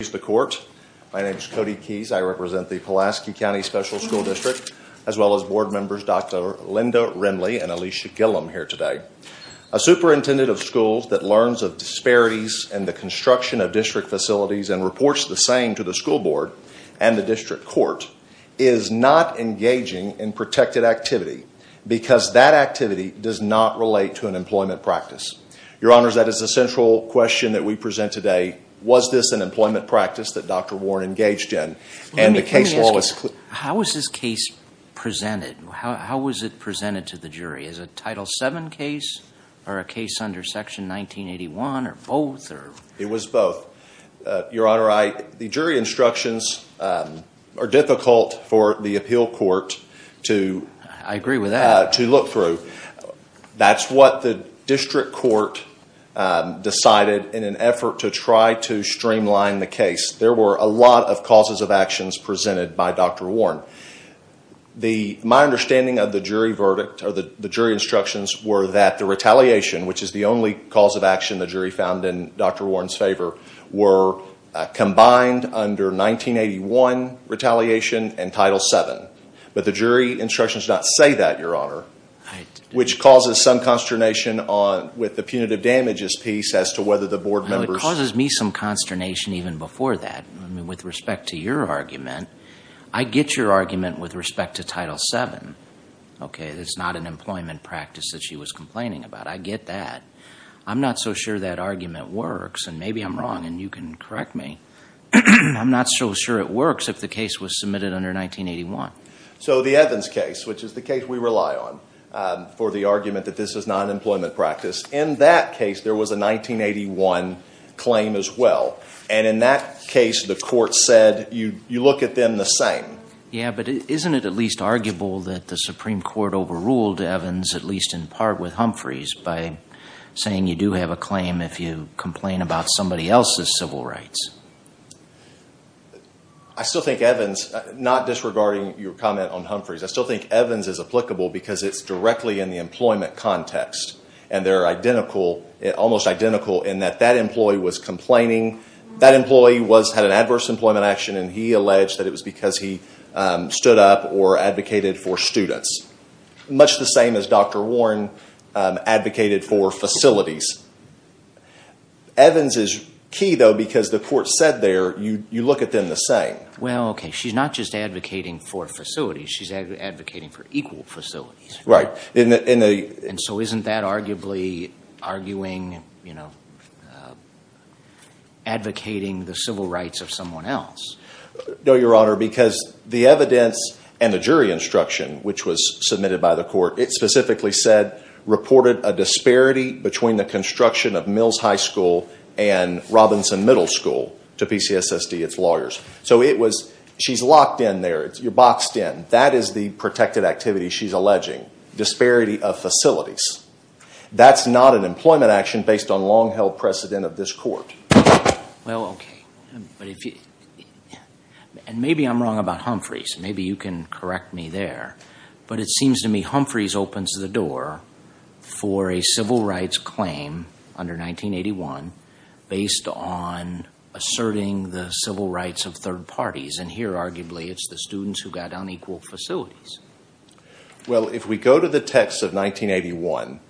My name is Cody Keyes. I represent the Pulaski County Special School District, as well as board members Dr. Linda Rimley and Alicia Gillum here today. A superintendent of schools that learns of disparities in the construction of district facilities and reports the same to the school board and the district court is not engaging in protected activity because that activity does not relate to an employment practice. Your Honor, that is a central question that we present today. Was this an employment practice that Dr. Warren engaged in? And the case law is... How was this case presented? How was it presented to the jury? Is it a Title VII case or a case under Section 1981 or both? It was both. Your Honor, the jury instructions are difficult for the appeal court to... I agree with that. ...to look through. That's what the district court decided in an effort to try to streamline the case. There were a lot of causes of actions presented by Dr. Warren. My understanding of the jury instructions were that the retaliation, which is the only cause of action the jury found in Dr. Warren's favor, were combined under 1981 retaliation and Title VII. But the jury instructions do not say that, Your Honor, which causes some consternation with the punitive damages piece as to whether the board members... It causes me some consternation even before that. With respect to your argument, I get your argument with respect to Title VII. Okay, it's not an employment practice that she was complaining about. I get that. I'm not so sure that argument works. And maybe I'm wrong and you can correct me. I'm not so sure it works if the case was submitted under 1981. So the Evans case, which is the case we rely on for the argument that this is not an employment practice, in that case there was a 1981 claim as well. And in that case the court said you look at them the same. Yeah, but isn't it at least arguable that the Supreme Court overruled Evans, at least in part with Humphreys, by saying you do have a claim if you complain about somebody else's civil rights? I still think Evans, not disregarding your comment on Humphreys, I still think Evans is applicable because it's directly in the employment context. And they're identical, almost identical, in that that employee was complaining. And he alleged that it was because he stood up or advocated for students, much the same as Dr. Warren advocated for facilities. Evans is key, though, because the court said there you look at them the same. Well, okay, she's not just advocating for facilities. She's advocating for equal facilities. And so isn't that arguably advocating the civil rights of someone else? No, Your Honor, because the evidence and the jury instruction, which was submitted by the court, it specifically said reported a disparity between the construction of Mills High School and Robinson Middle School to PCSSD, its lawyers. So she's locked in there. You're boxed in. That is the protected activity she's alleging, disparity of facilities. That's not an employment action based on long-held precedent of this court. Well, okay. And maybe I'm wrong about Humphreys. Maybe you can correct me there. But it seems to me Humphreys opens the door for a civil rights claim under 1981 based on asserting the civil rights of third parties. And here, arguably, it's the students who got unequal facilities. Well, if we go to the text of 1981,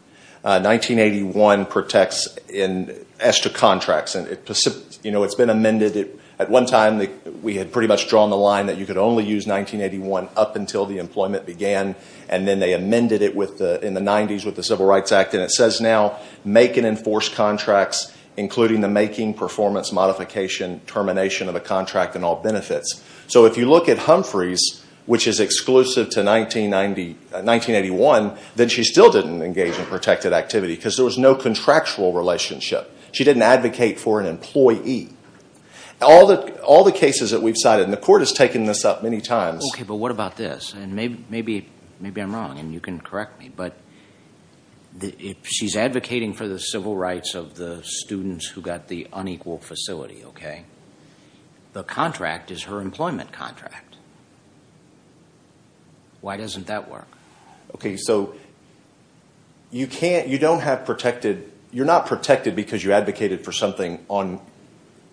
1981 protects in extra contracts. It's been amended. At one time, we had pretty much drawn the line that you could only use 1981 up until the employment began. And then they amended it in the 90s with the Civil Rights Act. And it says now, make and enforce contracts, including the making, performance, modification, termination of a contract and all benefits. So if you look at Humphreys, which is exclusive to 1981, then she still didn't engage in protected activity because there was no contractual relationship. She didn't advocate for an employee. All the cases that we've cited, and the court has taken this up many times. Okay, but what about this? And maybe I'm wrong, and you can correct me. But she's advocating for the civil rights of the students who got the unequal facility, okay? The contract is her employment contract. Why doesn't that work? Okay, so you're not protected because you advocated for something on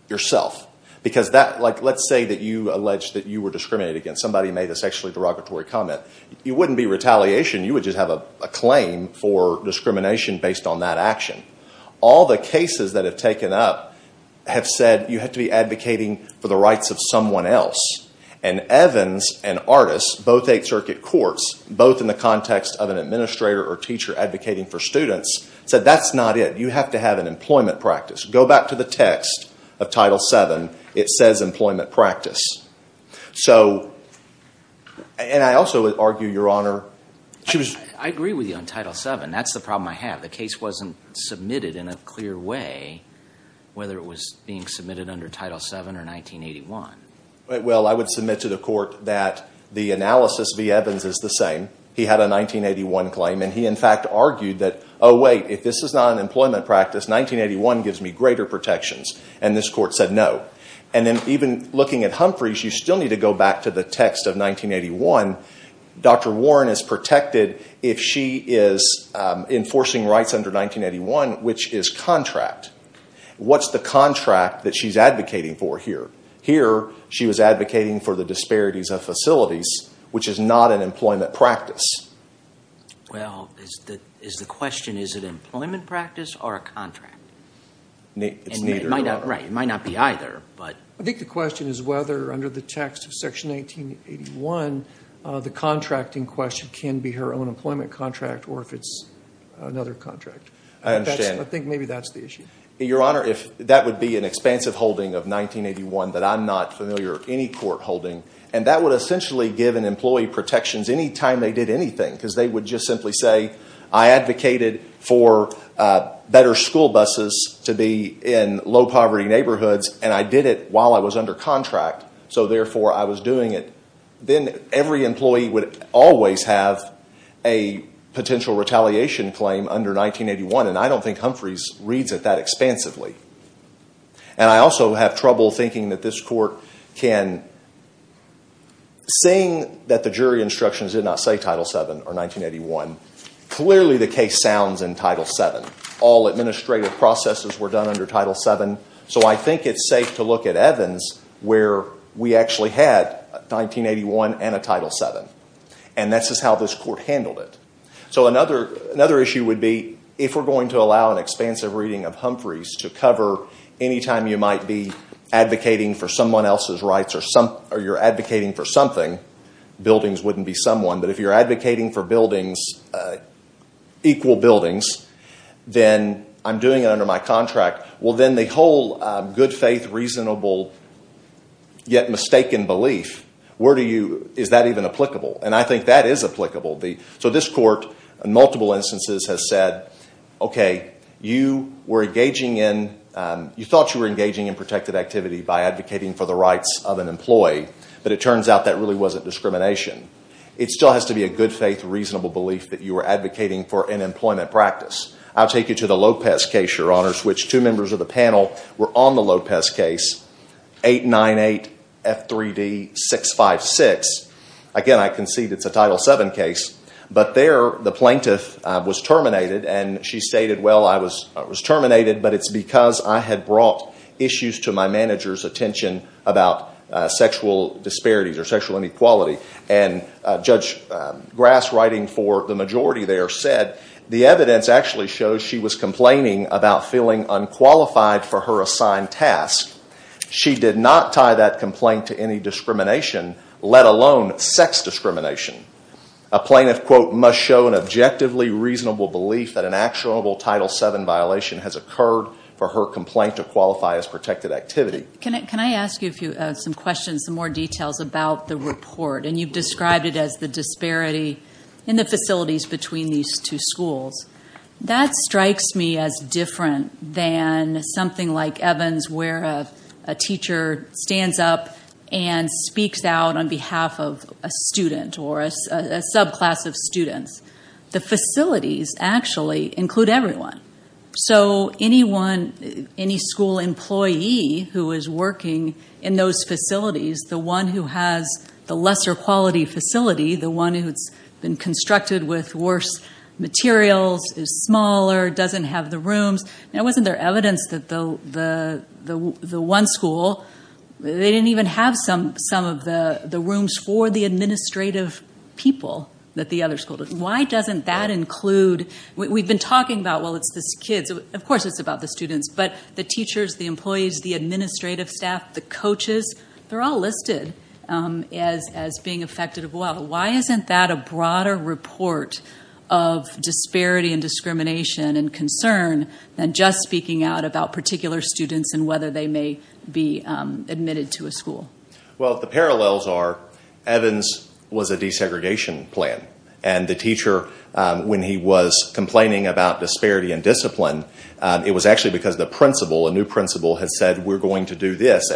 yourself. Because let's say that you alleged that you were discriminated against. Somebody made a sexually derogatory comment. It wouldn't be retaliation. You would just have a claim for discrimination based on that action. All the cases that have taken up have said you have to be advocating for the rights of someone else. And Evans and Artis, both Eighth Circuit courts, both in the context of an administrator or teacher advocating for students, said that's not it. You have to have an employment practice. Go back to the text of Title VII. It says employment practice. So, and I also would argue, Your Honor, she was… I agree with you on Title VII. That's the problem I have. The case wasn't submitted in a clear way, whether it was being submitted under Title VII or 1981. Well, I would submit to the court that the analysis v. Evans is the same. He had a 1981 claim, and he in fact argued that, oh, wait, if this is not an employment practice, 1981 gives me greater protections. And this court said no. And then even looking at Humphreys, you still need to go back to the text of 1981. Dr. Warren is protected if she is enforcing rights under 1981, which is contract. What's the contract that she's advocating for here? Here, she was advocating for the disparities of facilities, which is not an employment practice. Well, is the question, is it employment practice or a contract? It's neither, Your Honor. Right. It might not be either, but… I think the question is whether under the text of Section 1981, the contracting question can be her own employment contract or if it's another contract. I understand. I think maybe that's the issue. Your Honor, that would be an expansive holding of 1981 that I'm not familiar with, any court holding, and that would essentially give an employee protections any time they did anything because they would just simply say, I advocated for better school buses to be in low-poverty neighborhoods, and I did it while I was under contract, so therefore I was doing it. Then every employee would always have a potential retaliation claim under 1981, and I don't think Humphreys reads it that expansively. I also have trouble thinking that this court can, seeing that the jury instructions did not say Title VII or 1981, clearly the case sounds in Title VII. All administrative processes were done under Title VII, so I think it's safe to look at Evans, where we actually had 1981 and a Title VII, and this is how this court handled it. So another issue would be if we're going to allow an expansive reading of Humphreys to cover any time you might be advocating for someone else's rights or you're advocating for something, buildings wouldn't be someone, but if you're advocating for buildings, equal buildings, then I'm doing it under my contract, well, then the whole good faith, reasonable, yet mistaken belief, is that even applicable? And I think that is applicable. So this court, in multiple instances, has said, okay, you thought you were engaging in protected activity by advocating for the rights of an employee, but it turns out that really wasn't discrimination. It still has to be a good faith, reasonable belief that you were advocating for an employment practice. I'll take you to the Lopez case, Your Honors, which two members of the panel were on the Lopez case, 898F3D656. Again, I concede it's a Title VII case. But there, the plaintiff was terminated, and she stated, well, I was terminated, but it's because I had brought issues to my manager's attention about sexual disparities or sexual inequality. And Judge Grass writing for the majority there said the evidence actually shows she was complaining about feeling unqualified for her assigned task. She did not tie that complaint to any discrimination, let alone sex discrimination. A plaintiff, quote, must show an objectively reasonable belief that an actionable Title VII violation has occurred for her complaint to qualify as protected activity. Can I ask you some questions, some more details about the report? And you've described it as the disparity in the facilities between these two schools. That strikes me as different than something like Evans where a teacher stands up and speaks out on behalf of a student or a subclass of students. The facilities actually include everyone. So anyone, any school employee who is working in those facilities, the one who has the lesser quality facility, the one who's been constructed with worse materials, is smaller, doesn't have the rooms. Now, wasn't there evidence that the one school, they didn't even have some of the rooms for the administrative people that the other school did? Why doesn't that include, we've been talking about, well, it's the kids. Of course it's about the students, but the teachers, the employees, the administrative staff, the coaches, they're all listed as being affected as well. Why isn't that a broader report of disparity and discrimination and concern than just speaking out about particular students and whether they may be admitted to a school? Well, the parallels are Evans was a desegregation plan. And the teacher, when he was complaining about disparity and discipline, it was actually because the principal, a new principal, had said, we're going to do this.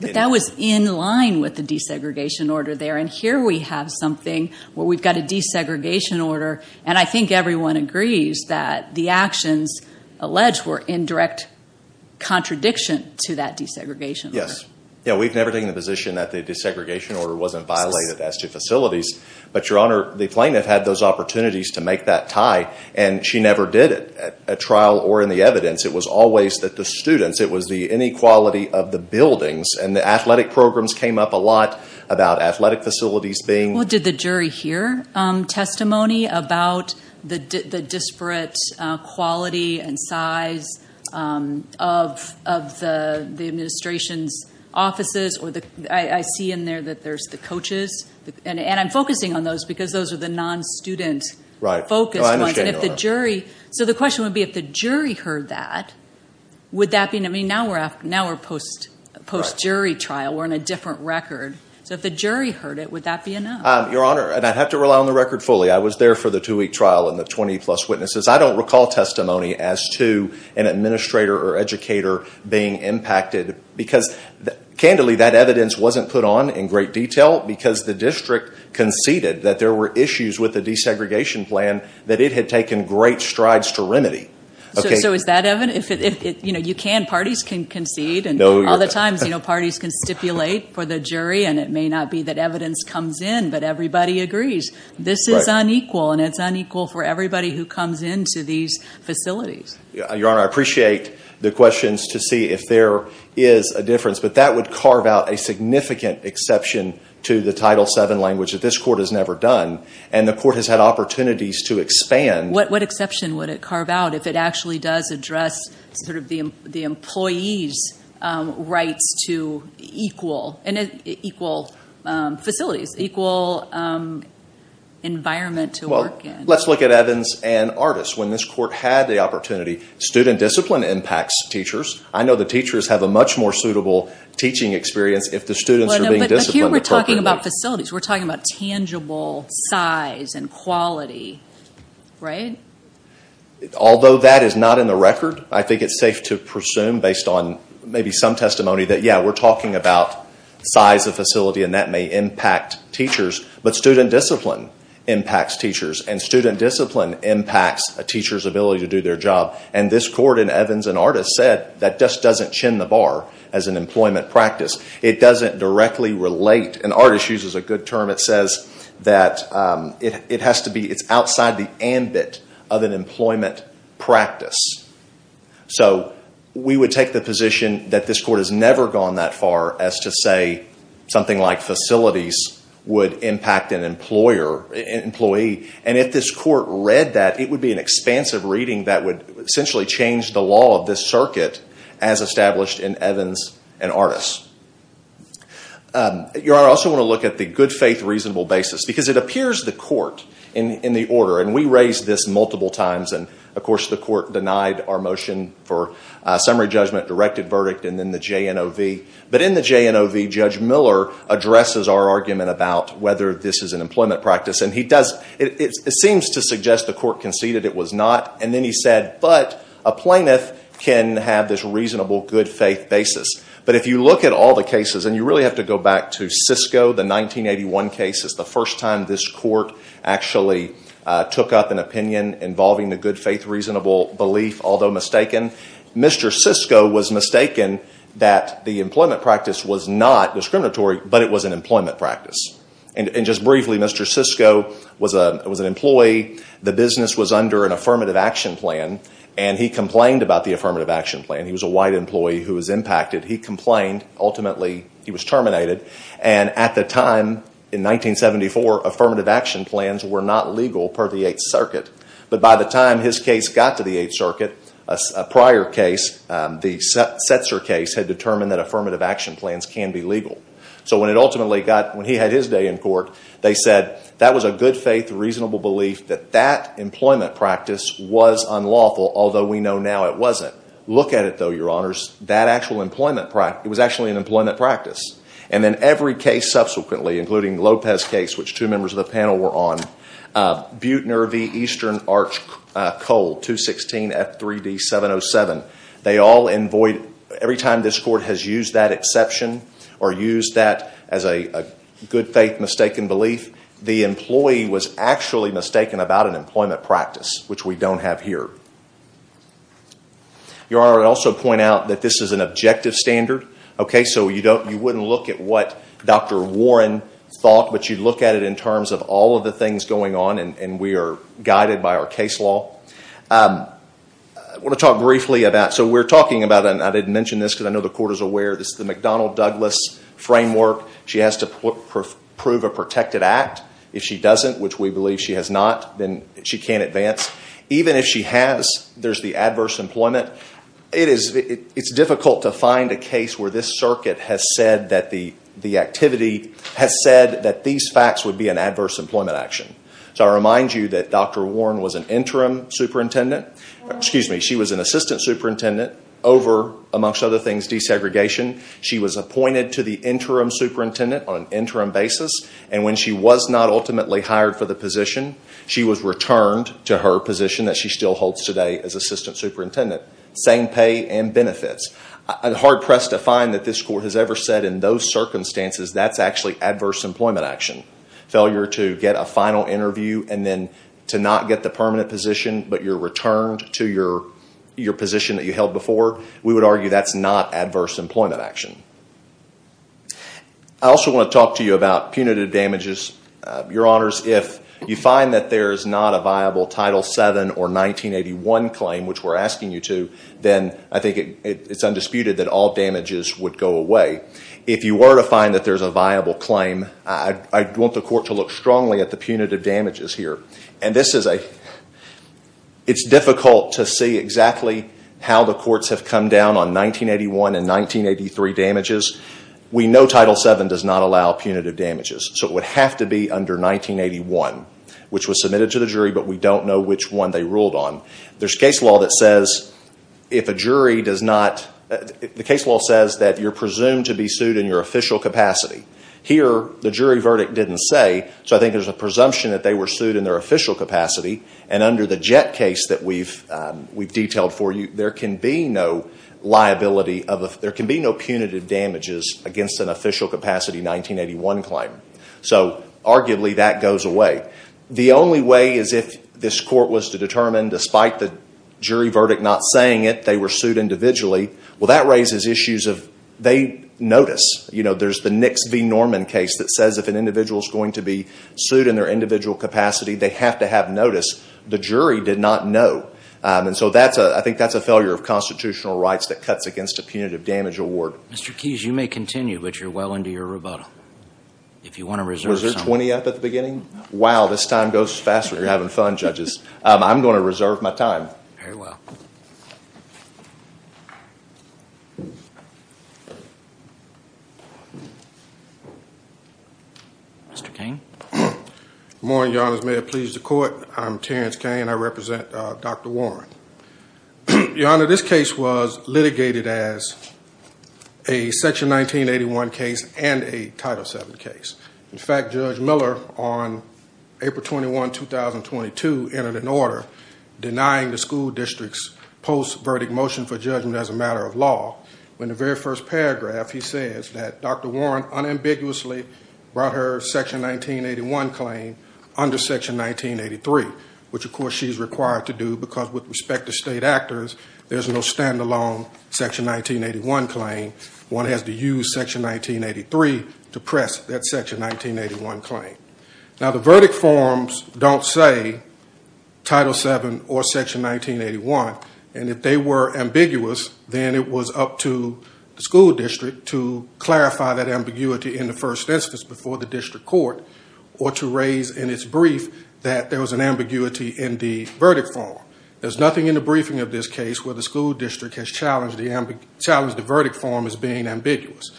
But that was in line with the desegregation order there. And here we have something where we've got a desegregation order. And I think everyone agrees that the actions alleged were in direct contradiction to that desegregation order. Yes. Yeah, we've never taken the position that the desegregation order wasn't violated as to facilities. But, Your Honor, the plaintiff had those opportunities to make that tie. And she never did it at trial or in the evidence. It was always that the students, it was the inequality of the buildings. And the athletic programs came up a lot about athletic facilities being. Well, did the jury hear testimony about the disparate quality and size of the administration's offices? I see in there that there's the coaches. And I'm focusing on those because those are the non-student focused ones. So the question would be, if the jury heard that, would that be enough? Now we're post-jury trial. We're on a different record. So if the jury heard it, would that be enough? Your Honor, and I'd have to rely on the record fully. I was there for the two-week trial and the 20-plus witnesses. I don't recall testimony as to an administrator or educator being impacted. Because, candidly, that evidence wasn't put on in great detail because the district conceded that there were issues with the desegregation plan that it had taken great strides to remedy. So is that evidence? You know, you can. Parties can concede. And other times, you know, parties can stipulate for the jury. And it may not be that evidence comes in. But everybody agrees. This is unequal. And it's unequal for everybody who comes into these facilities. Your Honor, I appreciate the questions to see if there is a difference. But that would carve out a significant exception to the Title VII language that this court has never done. And the court has had opportunities to expand. What exception would it carve out if it actually does address sort of the employees' rights to equal facilities, equal environment to work in? Well, let's look at Evans and Artis. When this court had the opportunity, student discipline impacts teachers. I know the teachers have a much more suitable teaching experience if the students are being disciplined appropriately. We're talking about facilities. We're talking about tangible size and quality, right? Although that is not in the record, I think it's safe to presume, based on maybe some testimony, that, yeah, we're talking about size of facility, and that may impact teachers. But student discipline impacts teachers. And student discipline impacts a teacher's ability to do their job. And this court in Evans and Artis said that just doesn't chin the bar as an employment practice. It doesn't directly relate. And Artis uses a good term. It says that it's outside the ambit of an employment practice. So we would take the position that this court has never gone that far as to say something like facilities would impact an employee. And if this court read that, it would be an expansive reading that would essentially change the law of this circuit, as established in Evans and Artis. I also want to look at the good faith reasonable basis. Because it appears the court in the order, and we raised this multiple times, and of course the court denied our motion for summary judgment, directed verdict, and then the JNOV. But in the JNOV, Judge Miller addresses our argument about whether this is an employment practice. And it seems to suggest the court conceded it was not. And then he said, but a plaintiff can have this reasonable good faith basis. But if you look at all the cases, and you really have to go back to Cisco, the 1981 cases, the first time this court actually took up an opinion involving the good faith reasonable belief, although mistaken. Mr. Cisco was mistaken that the employment practice was not discriminatory, but it was an employment practice. And just briefly, Mr. Cisco was an employee. The business was under an affirmative action plan. And he complained about the affirmative action plan. He was a white employee who was impacted. He complained. Ultimately, he was terminated. And at the time, in 1974, affirmative action plans were not legal per the Eighth Circuit. But by the time his case got to the Eighth Circuit, a prior case, the Setzer case, had determined that affirmative action plans can be legal. So when it ultimately got, when he had his day in court, they said that was a good faith reasonable belief that that employment practice was unlawful, although we know now it wasn't. Look at it, though, Your Honors. That actual employment practice, it was actually an employment practice. And then every case subsequently, including Lopez's case, which two members of the panel were on, Bute, Nervi, Eastern, Arch, Cole, 216, F3D, 707, they all, every time this court has used that exception or used that as a good faith mistaken belief, the employee was actually mistaken about an employment practice, which we don't have here. Your Honor, I would also point out that this is an objective standard. So you wouldn't look at what Dr. Warren thought, but you'd look at it in terms of all of the things going on, and we are guided by our case law. I want to talk briefly about, so we're talking about, and I didn't mention this because I know the court is aware, this is the McDonnell-Douglas framework. She has to prove a protected act. If she doesn't, which we believe she has not, then she can't advance. Even if she has, there's the adverse employment. It's difficult to find a case where this circuit has said that the activity has said that these facts would be an adverse employment action. So I remind you that Dr. Warren was an interim superintendent. Excuse me, she was an assistant superintendent over, amongst other things, desegregation. She was appointed to the interim superintendent on an interim basis, and when she was not ultimately hired for the position, she was returned to her position that she still holds today as assistant superintendent. Same pay and benefits. I'm hard-pressed to find that this court has ever said in those circumstances that's actually adverse employment action. Failure to get a final interview and then to not get the permanent position, but you're returned to your position that you held before, we would argue that's not adverse employment action. I also want to talk to you about punitive damages. Your Honors, if you find that there's not a viable Title VII or 1981 claim, which we're asking you to, then I think it's undisputed that all damages would go away. If you were to find that there's a viable claim, I'd want the court to look strongly at the punitive damages here. It's difficult to see exactly how the courts have come down on 1981 and 1983 damages. We know Title VII does not allow punitive damages, so it would have to be under 1981, which was submitted to the jury, but we don't know which one they ruled on. There's case law that says that you're presumed to be sued in your official capacity. Here, the jury verdict didn't say, so I think there's a presumption that they were sued in their official capacity, and under the Jett case that we've detailed for you, there can be no punitive damages against an official capacity 1981 claim. Arguably, that goes away. The only way is if this court was to determine, despite the jury verdict not saying it, they were sued individually. Well, that raises issues of they notice. There's the Nix v. Norman case that says if an individual is going to be sued in their individual capacity, they have to have notice. The jury did not know, and so I think that's a failure of constitutional rights that cuts against a punitive damage award. Mr. Keyes, you may continue, but you're well into your rebuttal. Was there 20 up at the beginning? Wow, this time goes faster. You're having fun, judges. I'm going to reserve my time. Very well. Mr. Cain. Good morning, Your Honor. May it please the court. I'm Terrence Cain. I represent Dr. Warren. Your Honor, this case was litigated as a Section 1981 case and a Title VII case. In fact, Judge Miller, on April 21, 2022, entered an order denying the school district's post-verdict motion for judgment as a matter of law. In the very first paragraph, he says that Dr. Warren unambiguously brought her Section 1981 claim under Section 1983, which, of course, she's required to do because, with respect to state actors, there's no stand-alone Section 1981 claim. One has to use Section 1983 to press that Section 1981 claim. Now, the verdict forms don't say Title VII or Section 1981, and if they were ambiguous, then it was up to the school district to clarify that ambiguity in the first instance before the district court or to raise in its brief that there was an ambiguity in the verdict form. There's nothing in the briefing of this case where the school district has challenged the verdict form as being ambiguous.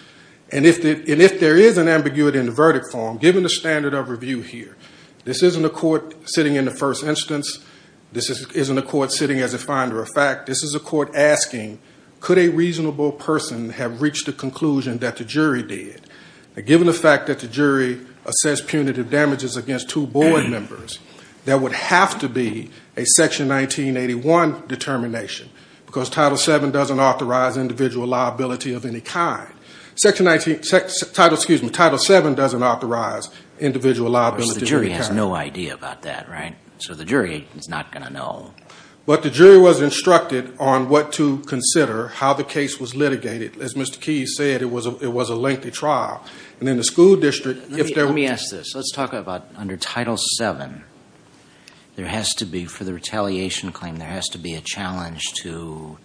And if there is an ambiguity in the verdict form, given the standard of review here, this isn't a court sitting in the first instance. This isn't a court sitting as a finder of fact. This is a court asking, could a reasonable person have reached the conclusion that the jury did? Now, given the fact that the jury assessed punitive damages against two board members, there would have to be a Section 1981 determination because Title VII doesn't authorize individual liability of any kind. Title VII doesn't authorize individual liability. But the jury has no idea about that, right? So the jury is not going to know. But the jury was instructed on what to consider, how the case was litigated. As Mr. Keyes said, it was a lengthy trial. And then the school district, if there were- Let me ask this. Let's talk about under Title VII. There has to be, for the retaliation claim, there has to be a challenge to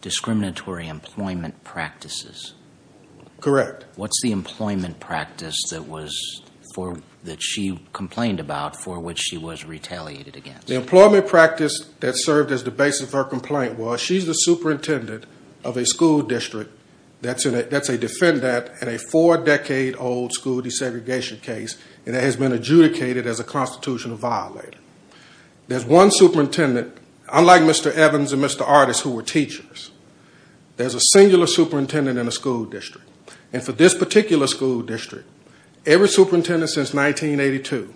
discriminatory employment practices. Correct. What's the employment practice that she complained about for which she was retaliated against? The employment practice that served as the basis of her complaint was she's the superintendent of a school district that's a defendant in a four-decade-old school desegregation case that has been adjudicated as a constitutional violator. There's one superintendent, unlike Mr. Evans and Mr. Artis, who were teachers, there's a singular superintendent in a school district. And for this particular school district, every superintendent since 1982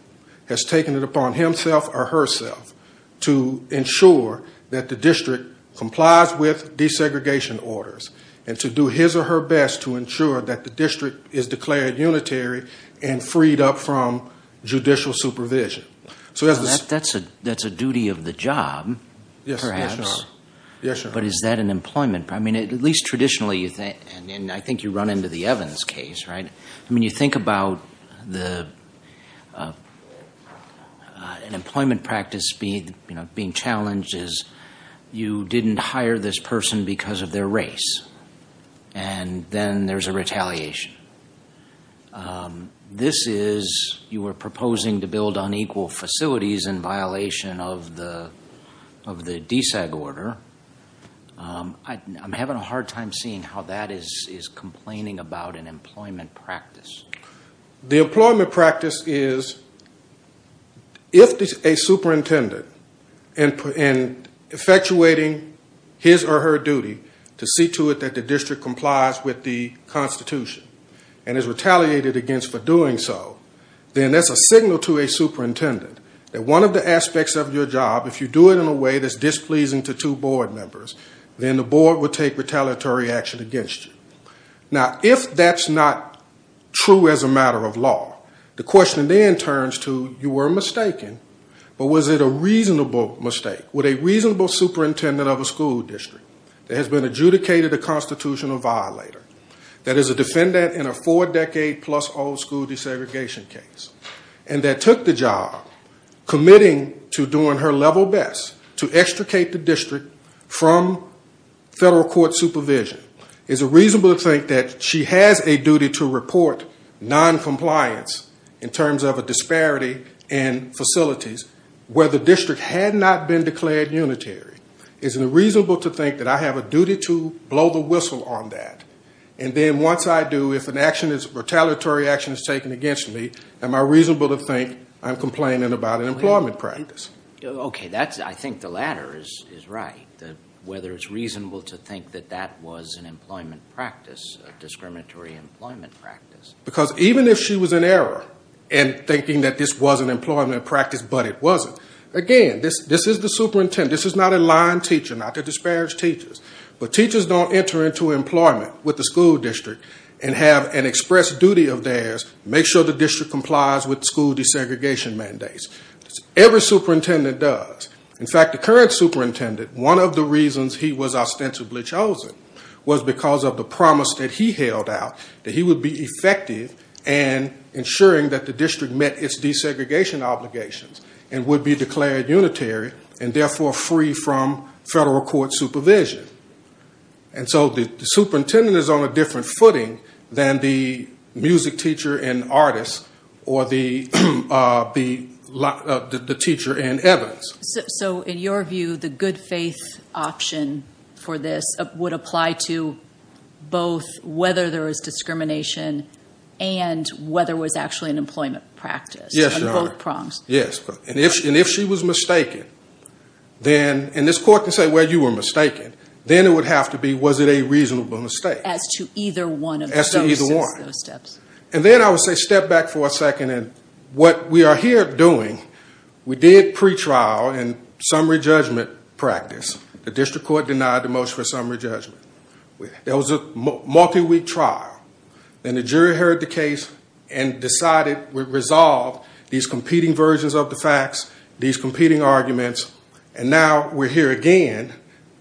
has taken it upon himself or herself to ensure that the district complies with desegregation orders and to do his or her best to ensure that the district is declared unitary and freed up from judicial supervision. That's a duty of the job, perhaps. Yes, Your Honor. But is that an employment- I mean, at least traditionally, and I think you run into the Evans case, right? I mean, you think about an employment practice being challenged as you didn't hire this person because of their race. And then there's a retaliation. This is you were proposing to build unequal facilities in violation of the DESEG order. I'm having a hard time seeing how that is complaining about an employment practice. The employment practice is if a superintendent, in effectuating his or her duty, to see to it that the district complies with the Constitution and is retaliated against for doing so, then that's a signal to a superintendent that one of the aspects of your job, if you do it in a way that's displeasing to two board members, then the board would take retaliatory action against you. Now, if that's not true as a matter of law, the question then turns to you were mistaken, but was it a reasonable mistake? Would a reasonable superintendent of a school district that has been adjudicated a constitutional violator, that is a defendant in a four-decade-plus-old school desegregation case, and that took the job, committing to doing her level best to extricate the district from federal court supervision, is it reasonable to think that she has a duty to report noncompliance in terms of a disparity in facilities where the district had not been declared unitary? Is it reasonable to think that I have a duty to blow the whistle on that? And then once I do, if retaliatory action is taken against me, am I reasonable to think I'm complaining about an employment practice? Okay, I think the latter is right, whether it's reasonable to think that that was an employment practice, a discriminatory employment practice. Because even if she was in error in thinking that this was an employment practice but it wasn't, again, this is the superintendent, this is not a lying teacher, not to disparage teachers, but teachers don't enter into employment with the school district and have an express duty of theirs to make sure the district complies with school desegregation mandates. Every superintendent does. In fact, the current superintendent, one of the reasons he was ostensibly chosen was because of the promise that he held out that he would be effective in ensuring that the district met its desegregation obligations and would be declared unitary and therefore free from federal court supervision. And so the superintendent is on a different footing than the music teacher and artist or the teacher and evidence. So in your view, the good faith option for this would apply to both whether there was discrimination and whether it was actually an employment practice on both prongs? Yes. And if she was mistaken, and this court can say, well, you were mistaken, then it would have to be was it a reasonable mistake. As to either one of those steps. As to either one. And then I would say step back for a second. What we are here doing, we did pretrial and summary judgment practice. The district court denied the motion for summary judgment. There was a multi-week trial. And the jury heard the case and decided, resolved these competing versions of the facts, these competing arguments, and now we're here again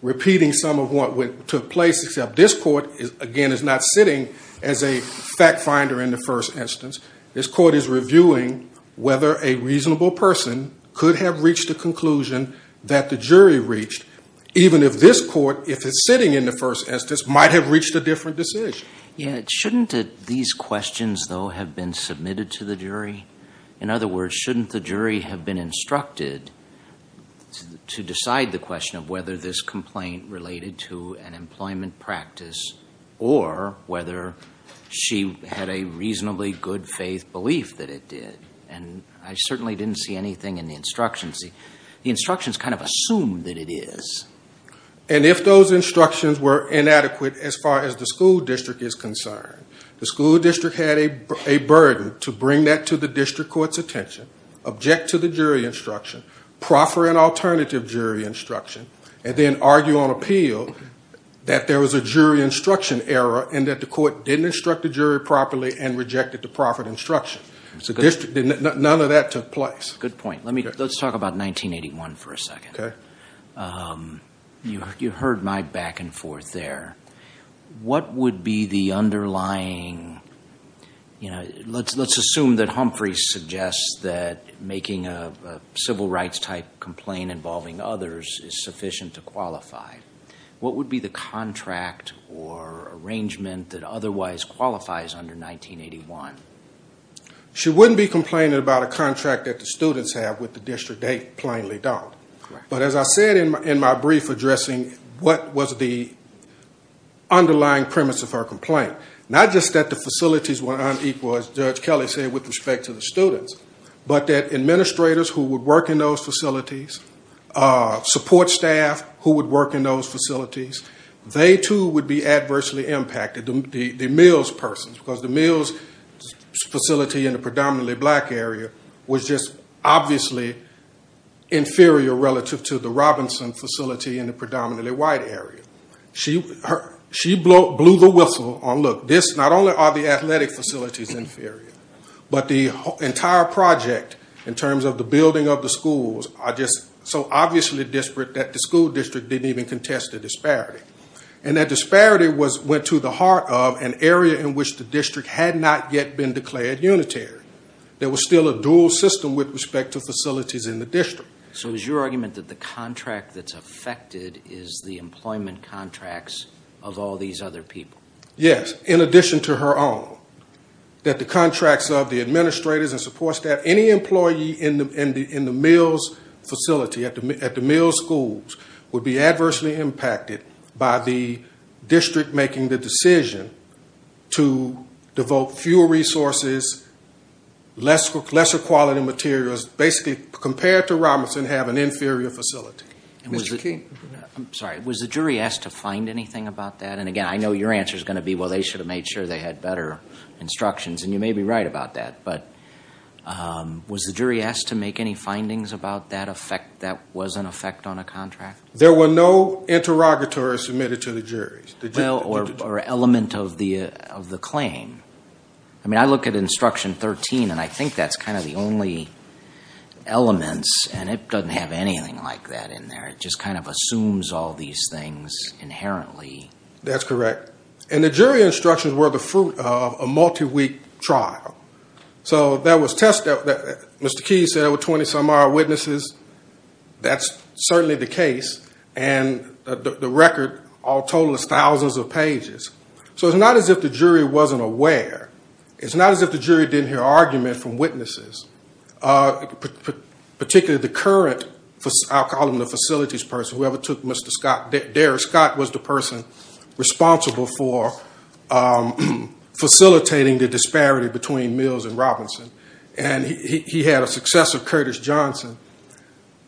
repeating some of what took place, except this court, again, is not sitting as a fact finder in the first instance. This court is reviewing whether a reasonable person could have reached the conclusion that the jury reached, even if this court, if it's sitting in the first instance, might have reached a different decision. Yeah. Shouldn't these questions, though, have been submitted to the jury? In other words, shouldn't the jury have been instructed to decide the question of whether this complaint related to an employment practice or whether she had a reasonably good faith belief that it did? And I certainly didn't see anything in the instructions. The instructions kind of assumed that it is. And if those instructions were inadequate as far as the school district is concerned, the school district had a burden to bring that to the district court's attention, object to the jury instruction, proffer an alternative jury instruction, and then argue on appeal that there was a jury instruction error and that the court didn't instruct the jury properly and rejected the proffered instruction. None of that took place. Good point. Let's talk about 1981 for a second. Okay. You heard my back and forth there. What would be the underlying, you know, let's assume that Humphrey suggests that making a civil rights type complaint involving others is sufficient to qualify. What would be the contract or arrangement that otherwise qualifies under 1981? She wouldn't be complaining about a contract that the students have with the district. They plainly don't. But as I said in my brief addressing what was the underlying premise of her complaint, not just that the facilities were unequal, as Judge Kelly said, with respect to the students, but that administrators who would work in those facilities, support staff who would work in those facilities, they too would be adversely impacted, the Mills persons, because the Mills facility in the predominantly black area was just obviously inferior relative to the Robinson facility in the predominantly white area. She blew the whistle on, look, this, not only are the athletic facilities inferior, but the entire project in terms of the building of the schools are just so obviously disparate that the school district didn't even contest the disparity. And that disparity went to the heart of an area in which the district had not yet been declared unitary. There was still a dual system with respect to facilities in the district. So is your argument that the contract that's affected is the employment contracts of all these other people? Yes, in addition to her own, that the contracts of the administrators and support staff, that any employee in the Mills facility, at the Mills schools, would be adversely impacted by the district making the decision to devote fewer resources, lesser quality materials, basically compared to Robinson, have an inferior facility. Mr. Keene. I'm sorry, was the jury asked to find anything about that? And again, I know your answer is going to be, well, they should have made sure they had better instructions. And you may be right about that, but was the jury asked to make any findings about that effect, that was an effect on a contract? There were no interrogatories submitted to the jury. Well, or element of the claim. I mean, I look at instruction 13, and I think that's kind of the only elements, and it doesn't have anything like that in there. It just kind of assumes all these things inherently. That's correct. And the jury instructions were the fruit of a multi-week trial. So that was tested. Mr. Keene said there were 20-some-odd witnesses. That's certainly the case, and the record all totals thousands of pages. So it's not as if the jury wasn't aware. It's not as if the jury didn't hear argument from witnesses, particularly the current, I'll call him the facilities person, whoever took Mr. Scott, Darris Scott was the person responsible for facilitating the disparity between Mills and Robinson. And he had a successor, Curtis Johnson.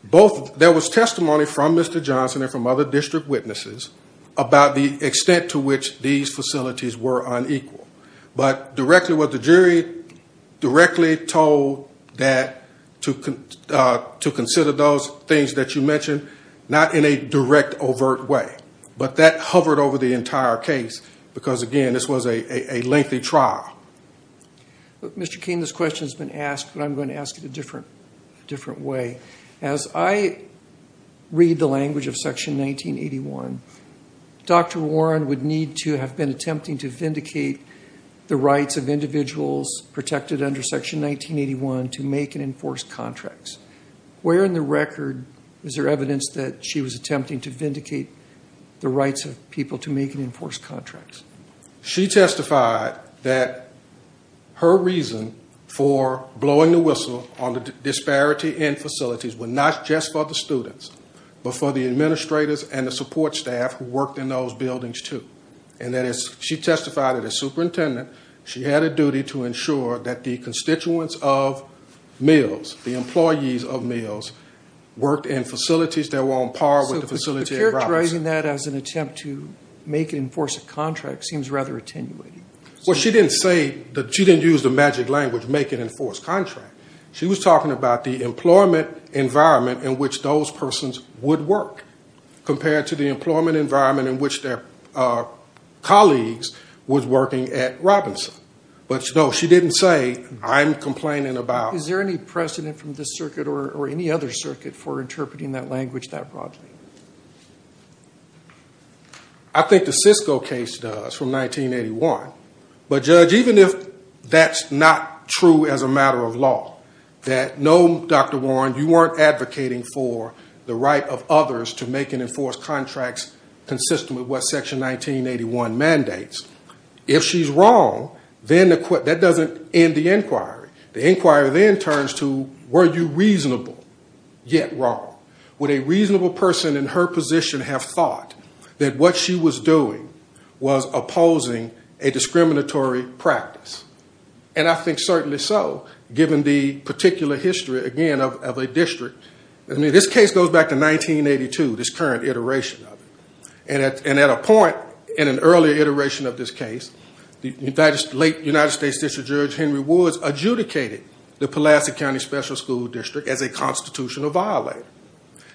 There was testimony from Mr. Johnson and from other district witnesses about the extent to which these facilities were unequal. But directly what the jury directly told that to consider those things that you mentioned, not in a direct, overt way. But that hovered over the entire case because, again, this was a lengthy trial. Mr. Keene, this question has been asked, but I'm going to ask it a different way. As I read the language of Section 1981, Dr. Warren would need to have been attempting to vindicate the rights of individuals protected under Section 1981 to make and enforce contracts. Where in the record is there evidence that she was attempting to vindicate the rights of people to make and enforce contracts? She testified that her reason for blowing the whistle on the disparity in facilities were not just for the students, but for the administrators and the support staff who worked in those buildings, too. And that is, she testified that as superintendent, she had a duty to ensure that the constituents of Mills, the employees of Mills, worked in facilities that were on par with the facility in Robinson. So she's writing that as an attempt to make and enforce a contract seems rather attenuating. Well, she didn't say that she didn't use the magic language, make and enforce contract. She was talking about the employment environment in which those persons would work compared to the employment environment in which their colleagues was working at Robinson. But, no, she didn't say, I'm complaining about. Is there any precedent from this circuit or any other circuit for interpreting that language that broadly? I think the Cisco case does from 1981. But, Judge, even if that's not true as a matter of law, that no, Dr. Warren, you weren't advocating for the right of others to make and enforce contracts consistent with what Section 1981 mandates. If she's wrong, then that doesn't end the inquiry. The inquiry then turns to, were you reasonable yet wrong? Would a reasonable person in her position have thought that what she was doing was opposing a discriminatory practice? And I think certainly so, given the particular history, again, of a district. I mean, this case goes back to 1982, this current iteration of it. And at a point in an earlier iteration of this case, the late United States District Judge Henry Woods adjudicated the Pulaski County Special School District as a constitutional violator.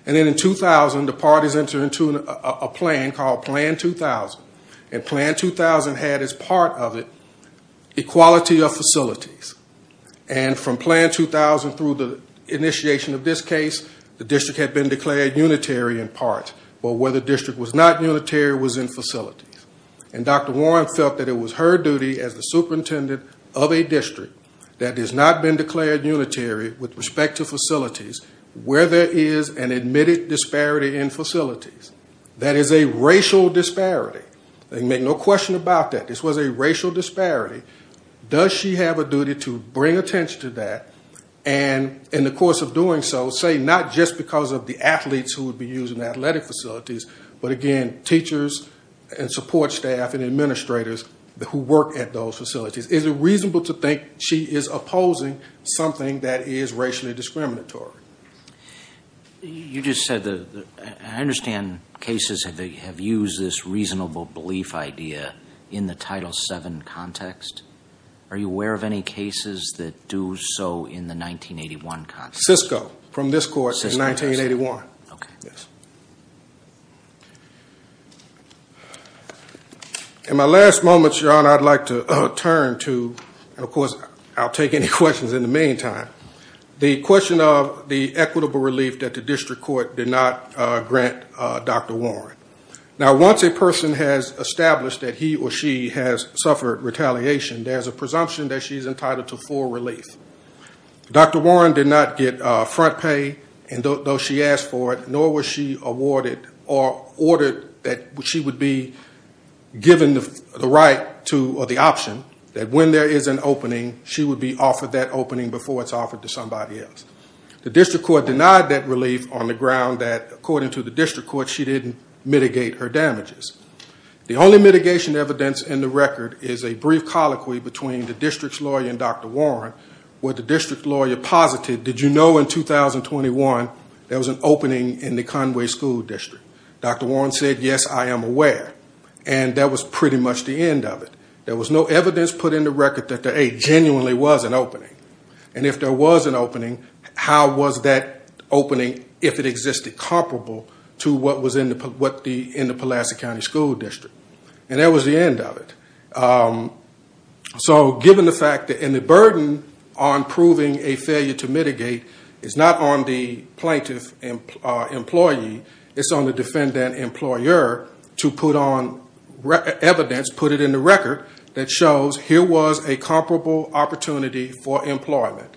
And then in 2000, the parties entered into a plan called Plan 2000. And Plan 2000 had as part of it equality of facilities. And from Plan 2000 through the initiation of this case, the district had been declared unitary in part. But where the district was not unitary was in facilities. And Dr. Warren felt that it was her duty as the superintendent of a district that has not been declared unitary with respect to facilities, where there is an admitted disparity in facilities. That is a racial disparity. And make no question about that. This was a racial disparity. Does she have a duty to bring attention to that? And in the course of doing so, say not just because of the athletes who would be using athletic facilities, but again, teachers and support staff and administrators who work at those facilities. Is it reasonable to think she is opposing something that is racially discriminatory? You just said that I understand cases have used this reasonable belief idea in the Title VII context. Are you aware of any cases that do so in the 1981 context? Cisco. From this court in 1981. Okay. In my last moments, Your Honor, I'd like to turn to, and of course I'll take any questions in the meantime. The question of the equitable relief that the district court did not grant Dr. Warren. Now once a person has established that he or she has suffered retaliation, there is a presumption that she is entitled to full relief. Dr. Warren did not get front pay, and though she asked for it, nor was she awarded or ordered that she would be given the right to, or the option, that when there is an opening, she would be offered that opening before it's offered to somebody else. The district court denied that relief on the ground that, according to the district court, she didn't mitigate her damages. The only mitigation evidence in the record is a brief colloquy between the district's lawyer and Dr. Warren, where the district lawyer posited, did you know in 2021 there was an opening in the Conway School District? Dr. Warren said, yes, I am aware. And that was pretty much the end of it. There was no evidence put in the record that there genuinely was an opening. And if there was an opening, how was that opening, if it existed, comparable to what was in the Pulaski County School District? And that was the end of it. So given the fact, and the burden on proving a failure to mitigate is not on the plaintiff employee, it's on the defendant employer to put on evidence, put it in the record, that shows here was a comparable opportunity for employment.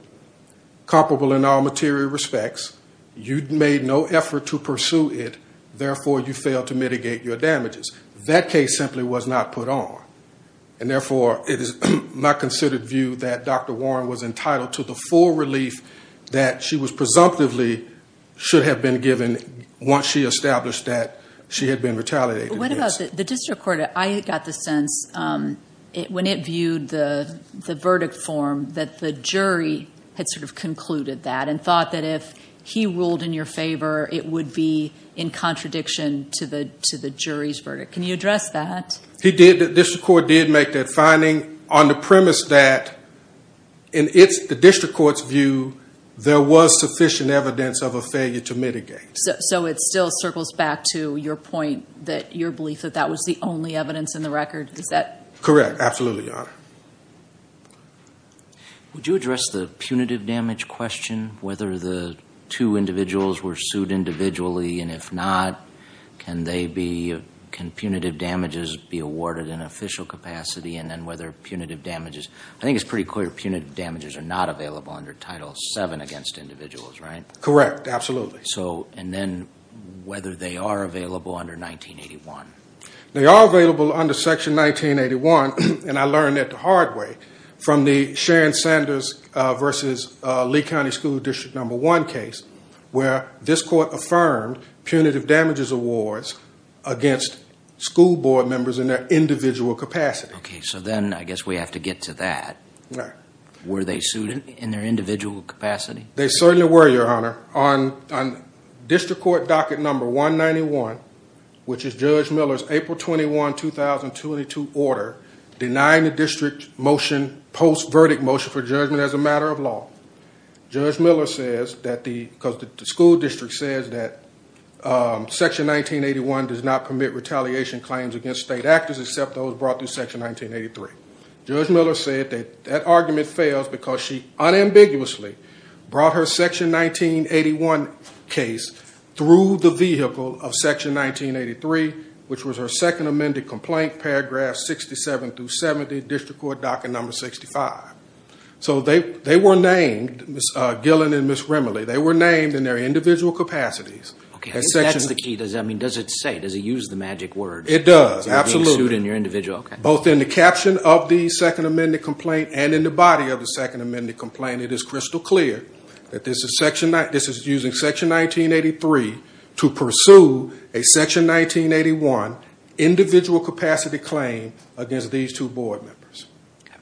Comparable in all material respects. You made no effort to pursue it, therefore you failed to mitigate your damages. That case simply was not put on. And therefore, it is my considered view that Dr. Warren was entitled to the full relief that she was presumptively should have been given once she established that she had been retaliated against. What about the district court? I got the sense, when it viewed the verdict form, that the jury had sort of concluded that and thought that if he ruled in your favor, it would be in contradiction to the jury's verdict. Can you address that? He did, the district court did make that finding on the premise that, in the district court's view, there was sufficient evidence of a failure to mitigate. So it still circles back to your point that your belief that that was the only evidence in the record? Correct, absolutely, Your Honor. Would you address the punitive damage question, whether the two individuals were sued individually, and if not, can punitive damages be awarded in official capacity? And then whether punitive damages, I think it's pretty clear punitive damages are not available under Title VII against individuals, right? Correct, absolutely. So, and then whether they are available under 1981? They are available under Section 1981, and I learned that the hard way from the Sharon Sanders v. Lee County School District No. 1 case, where this court affirmed punitive damages awards against school board members in their individual capacity. Okay, so then I guess we have to get to that. Right. Were they sued in their individual capacity? They certainly were, Your Honor. On district court docket No. 191, which is Judge Miller's April 21, 2022 order, denying the district motion, post-verdict motion for judgment as a matter of law, Judge Miller says that the, because the school district says that Section 1981 does not permit retaliation claims against state actors except those brought through Section 1983. Judge Miller said that that argument fails because she unambiguously brought her Section 1981 case through the vehicle of Section 1983, which was her second amended complaint, paragraphs 67 through 70, district court docket No. 65. So they were named, Ms. Gillen and Ms. Remily, they were named in their individual capacities. Okay, so that's the key. I mean, does it say, does it use the magic words? It does, absolutely. They're being sued in your individual, okay. Both in the caption of the second amended complaint and in the body of the second amended complaint, it is crystal clear that this is using Section 1983 to pursue a Section 1981 individual capacity claim against these two board members. Okay.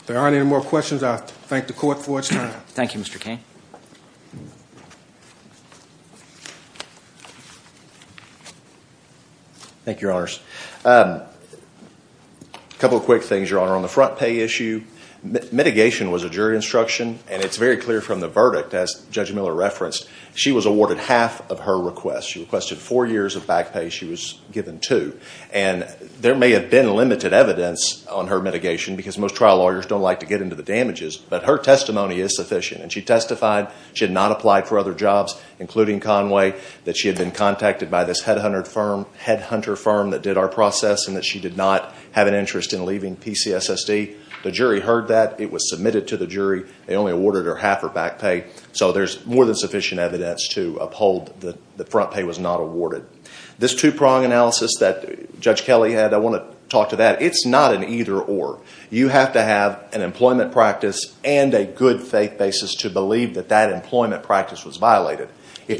If there aren't any more questions, I thank the court for its time. Thank you, Mr. Cain. Thank you, Your Honors. A couple of quick things, Your Honor. On the front pay issue, mitigation was a jury instruction, and it's very clear from the verdict, as Judge Miller referenced, she was awarded half of her request. She requested four years of back pay. She was given two. And there may have been limited evidence on her mitigation because most trial lawyers don't like to get into the damages, but her testimony is sufficient. And she testified she had not applied for other jobs, including Conway, that she had been contacted by this headhunter firm that did our process and that she did not have an interest in leaving PCSSD. The jury heard that. It was submitted to the jury. They only awarded her half her back pay. So there's more than sufficient evidence to uphold that the front pay was not awarded. This two-prong analysis that Judge Kelly had, I want to talk to that. It's not an either-or. You have to have an employment practice and a good-faith basis to believe that that employment practice was violated. Is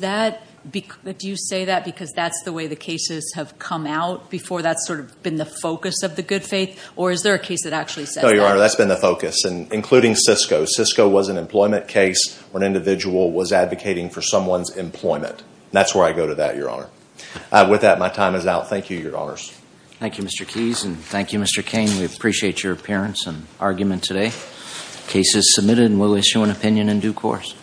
that – do you say that because that's the way the cases have come out before that's sort of been the focus of the good faith? Or is there a case that actually says that? No, Your Honor, that's been the focus, including Cisco. Cisco was an employment case where an individual was advocating for someone's employment. That's where I go to that, Your Honor. With that, my time is out. Thank you, Your Honors. Thank you, Mr. Keyes, and thank you, Mr. Cain. We appreciate your appearance and argument today. The case is submitted and we'll issue an opinion in due course.